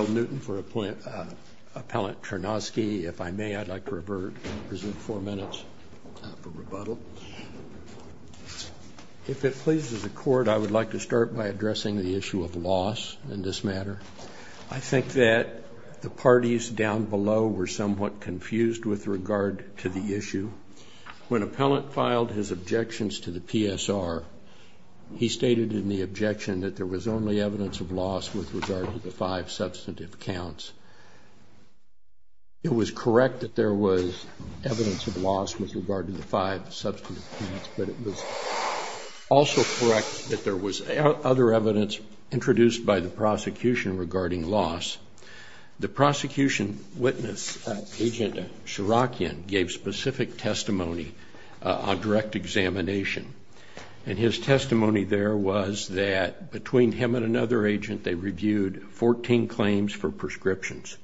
If it pleases the Court, I would like to start by addressing the issue of loss in this matter. I think that the parties down below were somewhat confused with regard to the issue. When Appellant filed his objections to the PSR, he stated in the objection that there was only evidence of loss with regard to the five substantive counts. It was correct that there was evidence of loss with regard to the five substantive counts, but it was also correct that there was other evidence introduced by the prosecution regarding loss. The prosecution witness, Agent Shirokian, gave specific testimony on direct examination, and his testimony there was that between him and another agent, they reviewed 14 claims for prescriptions.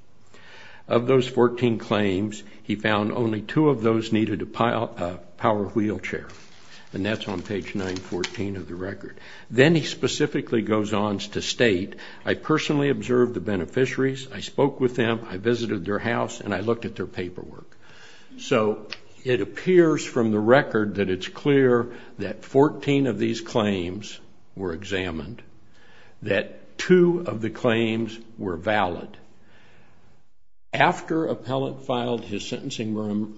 Of those 14 claims, he found only two of those needed a power wheelchair, and that's on page 914 of the record. Then he specifically goes on to state, I personally observed the beneficiaries, I spoke with them, I visited their house, and I looked at their paperwork. So it appears from the record that it's clear that 14 of these claims were examined, that two of the claims were valid. After Appellant filed his sentencing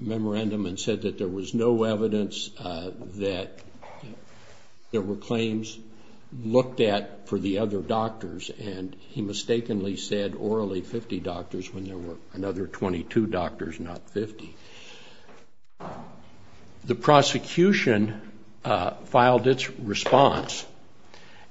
memorandum and said that there was no evidence that there were claims looked at for the other doctors, and he mistakenly said orally 50 doctors when there were another 22 doctors, not 50. The prosecution filed its response,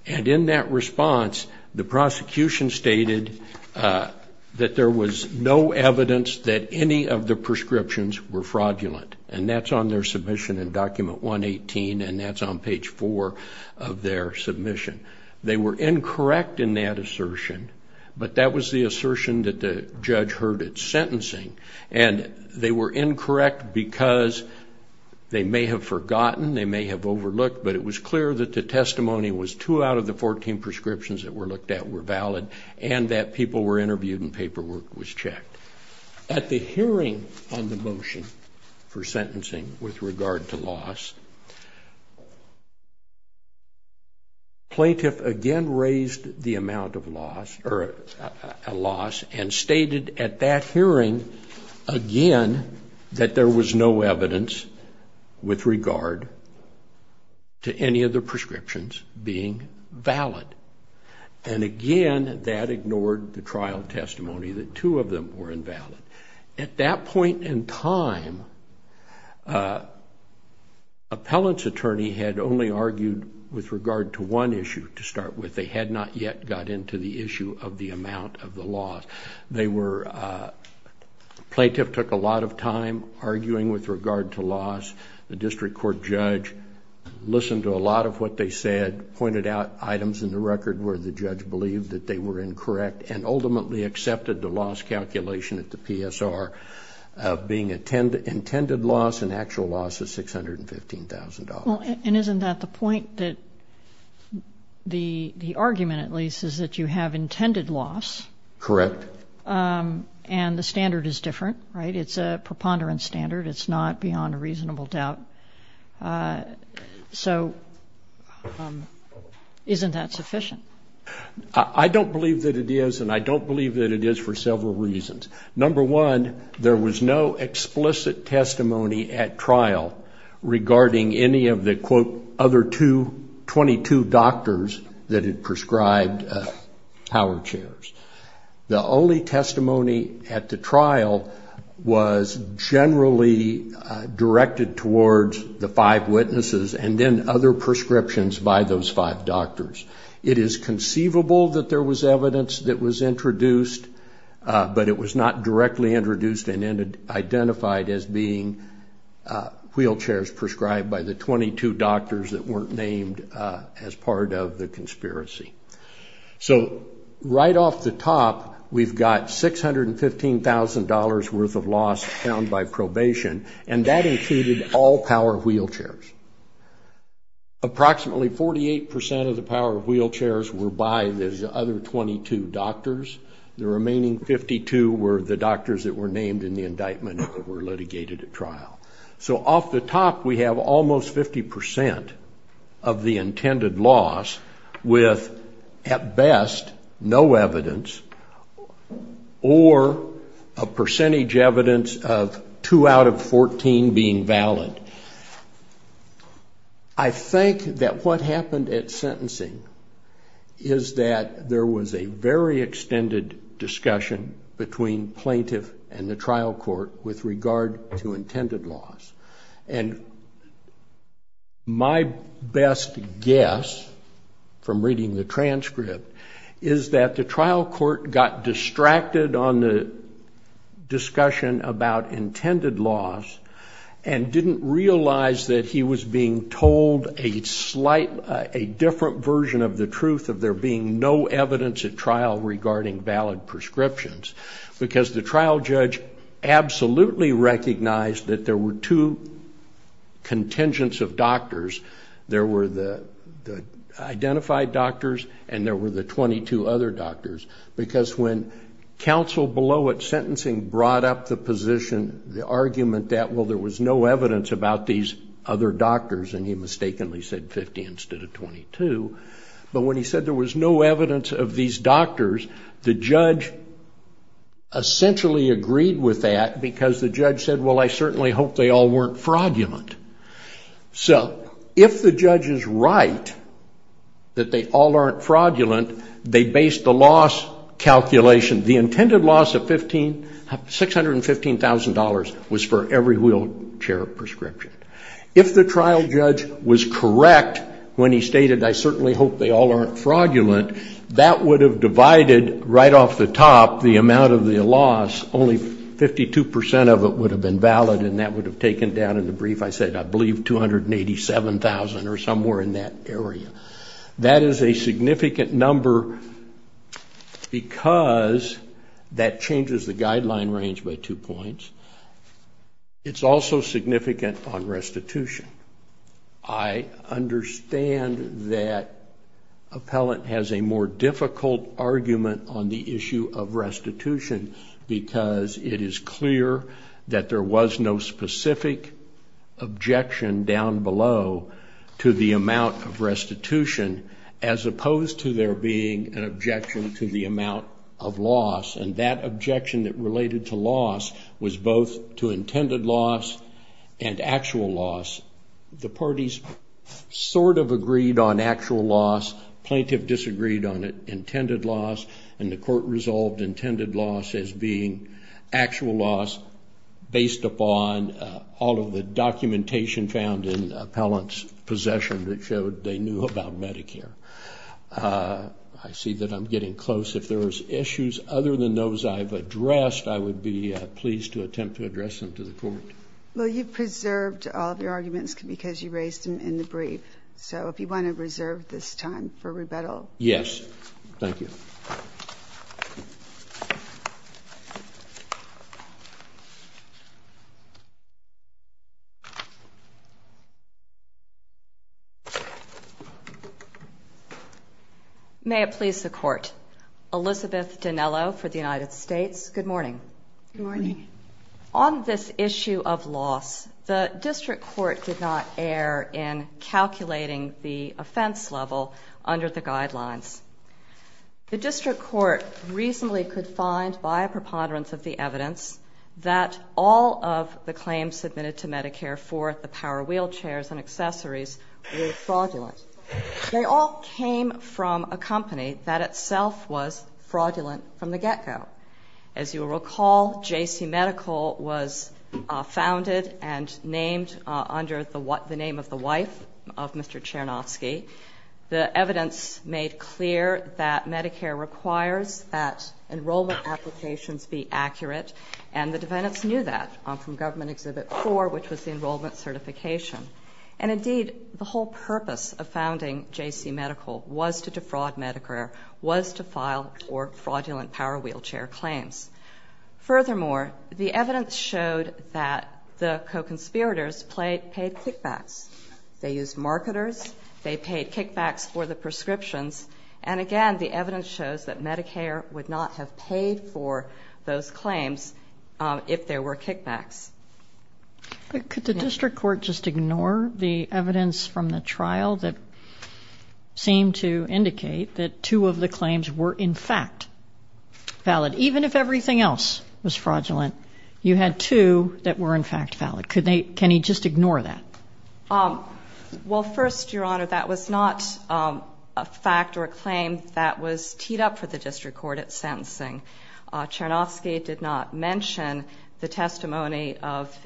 and in that response, the prosecution stated that there was no evidence that any of the prescriptions were fraudulent, and that's on their submission in document 118, and that's on page 4 of their submission. They were incorrect in that assertion, but that was the assertion that the judge heard at sentencing, and they were incorrect because they may have forgotten, they may have overlooked, but it was clear that the testimony was two out of the 14 prescriptions that were looked at were valid, and that people were interviewed and paperwork was checked. At the hearing on the motion for sentencing with regard to loss, plaintiff again raised the amount of loss, or a loss, and stated at that hearing again that there was no evidence with regard to any of the prescriptions being valid, and again, that ignored the trial testimony that two of them were invalid. At that point in time, appellant's attorney had only argued with regard to one issue to start with. They had not yet got into the issue of the amount of the loss. Plaintiff took a lot of time arguing with regard to loss. The district court judge listened to a lot of what they said, pointed out items in the loss calculation at the PSR of being an intended loss, an actual loss of $615,000. And isn't that the point that the argument, at least, is that you have intended loss? Correct. And the standard is different, right? It's a preponderance standard. It's not beyond a reasonable doubt. So isn't that sufficient? I don't believe that it is, and I don't believe that it is for several reasons. Number one, there was no explicit testimony at trial regarding any of the, quote, other 22 doctors that had prescribed power chairs. The only testimony at the trial was generally directed towards the five witnesses and then other prescriptions by those five doctors. It is conceivable that there was evidence that was introduced, but it was not directly introduced and identified as being wheelchairs prescribed by the 22 doctors that weren't named as part of the conspiracy. So right off the top, we've got $615,000 worth of loss found by probation, and that included all power wheelchairs. Approximately 48% of the power wheelchairs were by those other 22 doctors. The remaining 52 were the doctors that were named in the indictment that were litigated at trial. So off the top, we have almost 50% of the intended loss with, at best, no evidence or a percentage evidence of two out of 14 being valid. I think that what happened at sentencing is that there was a very extended discussion between plaintiff and the trial court with regard to intended loss, and my best guess from reading the transcript is that the trial court got distracted on the discussion about intended loss and didn't realize that he was being told a different version of the truth of there being no evidence at trial regarding valid prescriptions because the trial judge absolutely recognized that there were two contingents of doctors. There were the identified doctors and there were the 22 other doctors because when counsel below at sentencing brought up the position, the argument that, well, there was no evidence about these other doctors, and he mistakenly said 50 instead of 22, but when he said there was no evidence of these doctors, the judge essentially agreed with that because the judge said, well, I certainly hope they all weren't fraudulent. So if the judge is right that they all aren't fraudulent, they based the loss calculation, the intended loss of $615,000 was for every wheelchair prescription. If the trial judge was correct when he stated, I certainly hope they all aren't fraudulent, that would have divided right off the top the amount of the loss, only 52% of it would have been valid and that would have taken down in the brief. I said I believe $287,000 or somewhere in that area. That is a significant number because that changes the guideline range by two points. It's also significant on restitution. I understand that appellant has a more difficult argument on the issue of restitution because it is clear that there was no specific objection down below to the amount of restitution as opposed to there being an objection to the amount of loss, and that objection that related to loss was both to intended loss and actual loss. The parties sort of agreed on actual loss, plaintiff disagreed on intended loss, and the court resolved intended loss as being actual loss based upon all of the documentation found in the appellant's possession that showed they knew about Medicare. I see that I'm getting close. If there are issues other than those I've addressed, I would be pleased to attempt to address them to the court. Well, you've preserved all of your arguments because you raised them in the brief. So if you want to reserve this time for rebuttal. Yes. Thank you. May it please the Court. Elizabeth Dinello for the United States. Good morning. Good morning. On this issue of loss, the district court did not err in calculating the offense level under the guidelines. The district court reasonably could find by a preponderance of the evidence that all of the claims submitted to Medicare for the power wheelchairs and accessories were fraudulent. They all came from a company that itself was fraudulent from the get-go. As you will recall, JC Medical was founded and named under the name of the wife of Mr. Chernovsky. The evidence made clear that Medicare requires that enrollment applications be accurate, and the defendants knew that from Government Exhibit 4, which was the enrollment certification. And indeed, the whole purpose of founding JC Medical was to defraud Medicare, was to file fraudulent power wheelchair claims. Furthermore, the evidence showed that the co-conspirators paid kickbacks. They used marketers. They paid kickbacks for the prescriptions. And again, the evidence shows that Medicare would not have paid for those claims if there were kickbacks. Could the district court just ignore the evidence from the trial that seemed to indicate that two of the claims were, in fact, valid, even if everything else was fraudulent? You had two that were, in fact, valid. Can he just ignore that? Well, first, Your Honor, that was not a fact or a claim that was teed up for the district court at sentencing. Chernovsky did not mention the testimony of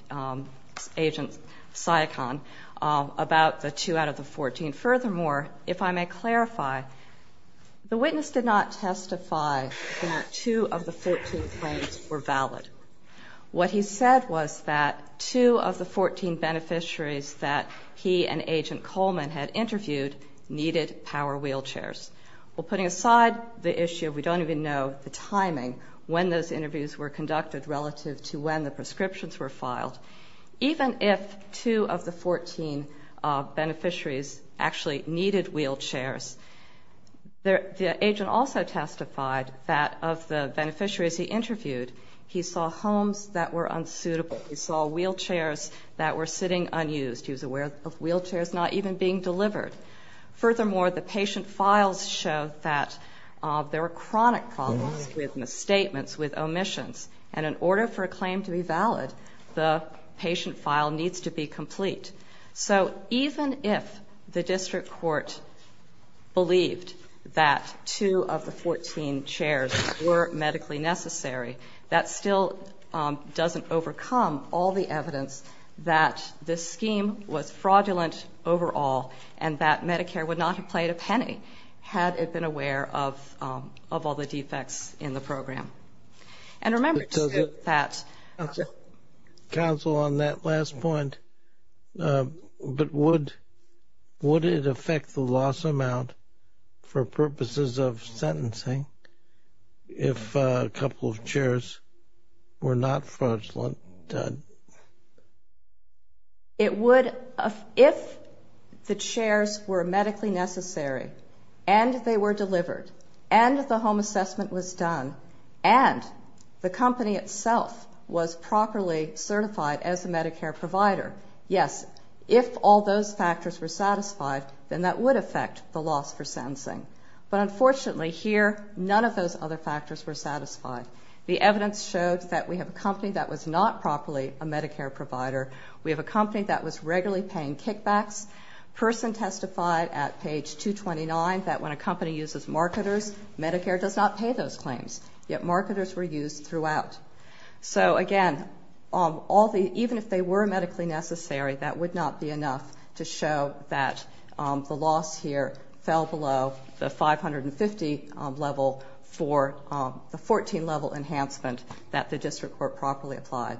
Agent Siakon about the two out of the 14. Furthermore, if I may clarify, the witness did not testify that two of the 14 claims were valid. What he said was that two of the 14 beneficiaries that he and Agent Coleman had interviewed needed power wheelchairs. Well, putting aside the issue of we don't even know the timing when those interviews were conducted relative to when the prescriptions were filed, even if two of the 14 beneficiaries actually needed wheelchairs, the agent also testified that of the beneficiaries he interviewed, he saw homes that were unsuitable. He saw wheelchairs that were sitting unused. He was aware of wheelchairs not even being delivered. Furthermore, the patient files show that there were chronic problems with misstatements, with omissions, and in order for a claim to be valid, the patient file needs to be complete. So even if the district court believed that two of the 14 chairs were medically necessary, that still doesn't overcome all the evidence that this scheme was fraudulent overall and that Medicare would not have played a penny had it been aware of all the defects in the program. And remember that... Counsel on that last point, but would it affect the loss amount for purposes of sentencing if a couple of chairs were not fraudulent? It would if the chairs were medically necessary and they were delivered and the home assessment was done and the company itself was properly certified as a Medicare provider. Yes, if all those factors were satisfied, then that would affect the loss for sentencing. But unfortunately here, none of those other factors were satisfied. The evidence showed that we have a company that was not properly a Medicare provider. We have a company that was regularly paying kickbacks. Person testified at page 229 that when a company uses marketers, Medicare does not pay those claims, yet marketers were used throughout. So again, even if they were medically necessary, that would not be enough to show that the loss here fell below the 550 level for the 14 level enhancement that the district court properly applied.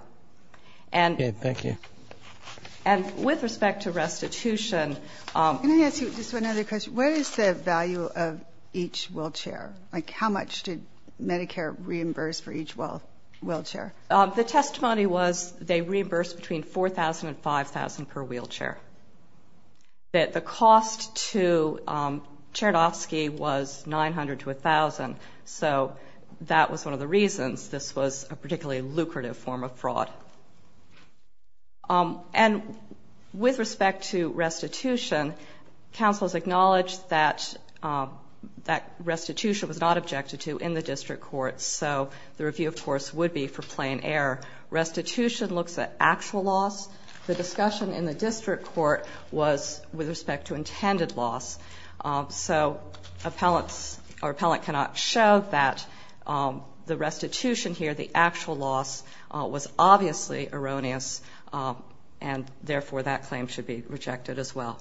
And with respect to restitution... Can I ask you just one other question? What is the value of each wheelchair? How much did Medicare reimburse for each wheelchair? The testimony was they reimbursed between $4,000 and $5,000 per wheelchair. The cost to Chernofsky was $900 to $1,000. So that was one of the reasons this was a particularly lucrative form of fraud. And with respect to restitution, counsel has acknowledged that restitution was not objected to in the district court, so the review, of course, would be for plain error. Restitution looks at actual loss. The discussion in the district court was with respect to intended loss. So appellants or appellant cannot show that the restitution here, the actual loss, was obviously erroneous, and therefore that claim should be rejected as well.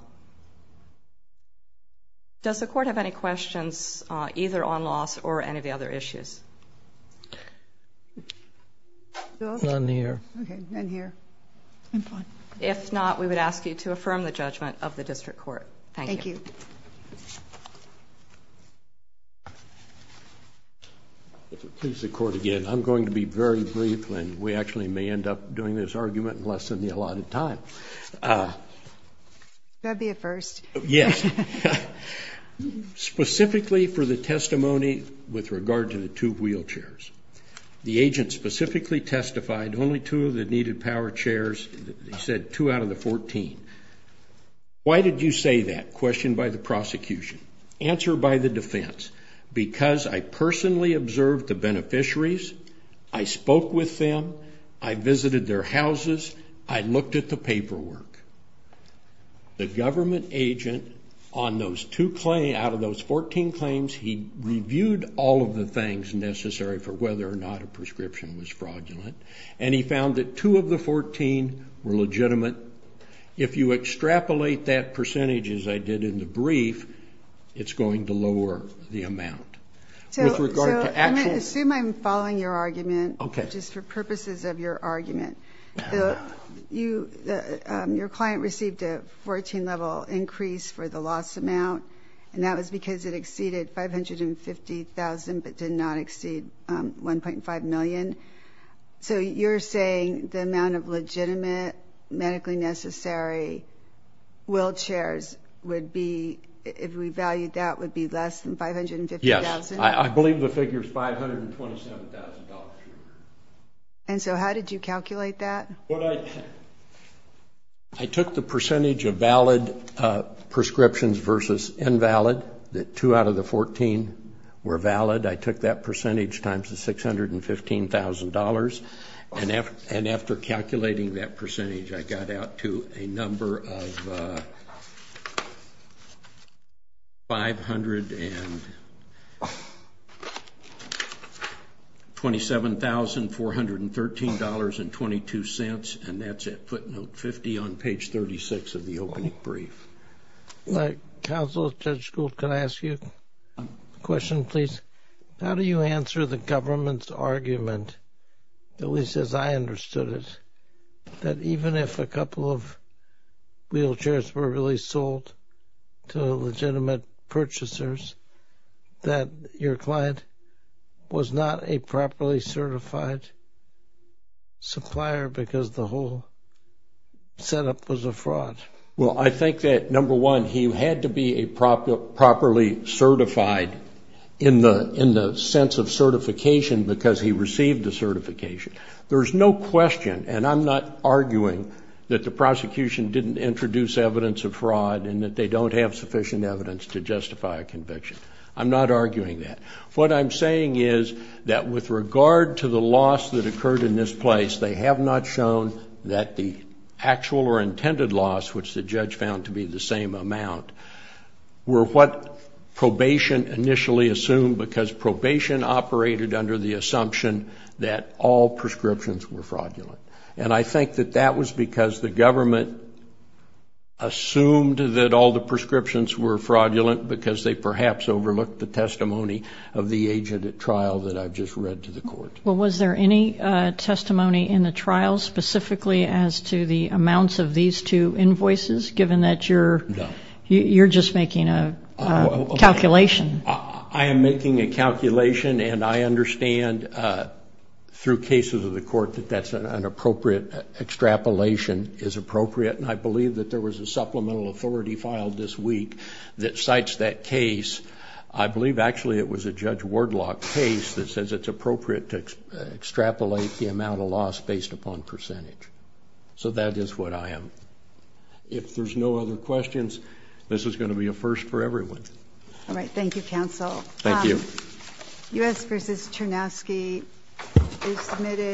Does the court have any questions, either on loss or any of the other issues? None here. Okay, none here. I'm fine. If not, we would ask you to affirm the judgment of the district court. Thank you. Thank you. If it pleases the court again, I'm going to be very brief, and we actually may end up doing this argument in less than the allotted time. That would be a first. Yes. Specifically for the testimony with regard to the two wheelchairs, the agent specifically testified only two of the needed power chairs, he said two out of the 14. Why did you say that, question by the prosecution, answer by the defense? Because I personally observed the beneficiaries, I spoke with them, I visited their houses, I looked at the paperwork. The government agent, on those two claims, out of those 14 claims, he reviewed all of the things necessary for whether or not a prescription was fraudulent, and he found that two of the 14 were legitimate. If you extrapolate that percentage, as I did in the brief, it's going to lower the amount. So, I'm going to assume I'm following your argument, just for purposes of your argument. Your client received a 14-level increase for the loss amount, and that was because it exceeded 550,000, but did not exceed 1.5 million. So you're saying the amount of legitimate, medically necessary wheelchairs would be, if we valued that, would be less than 550,000? Yes, I believe the figure is $527,000. And so, how did you calculate that? I took the percentage of valid prescriptions versus invalid, that two out of the 14 were valid, I took that percentage times the $615,000, and after calculating that percentage, I got $7,413.22, and that's it, footnote 50 on page 36 of the opening brief. Counsel, Judge Gould, can I ask you a question, please? How do you answer the government's argument, at least as I understood it, that even if a couple of wheelchairs were really sold to legitimate purchasers, that your client was not a properly certified supplier because the whole setup was a fraud? Well, I think that, number one, he had to be properly certified in the sense of certification because he received the certification. There's no question, and I'm not arguing, that the prosecution didn't introduce evidence of fraud and that they don't have sufficient evidence to justify a conviction. I'm not arguing that. What I'm saying is that with regard to the loss that occurred in this place, they have not shown that the actual or intended loss, which the judge found to be the same amount, were what probation initially assumed because probation operated under the assumption that all prescriptions were fraudulent. And I think that that was because the government assumed that all the prescriptions were fraudulent because they perhaps overlooked the testimony of the agent at trial that I've just read to the court. Well, was there any testimony in the trial specifically as to the amounts of these two invoices, given that you're just making a calculation? I am making a calculation, and I understand through cases of the court that that's an appropriate extrapolation, is appropriate. And I believe that there was a supplemental authority filed this week that cites that case. I believe, actually, it was a Judge Wardlock case that says it's appropriate to extrapolate the amount of loss based upon percentage. So that is what I am. If there's no other questions, this is going to be a first for everyone. All right. Thank you, counsel. Thank you. U.S. v. Chernovsky is submitted.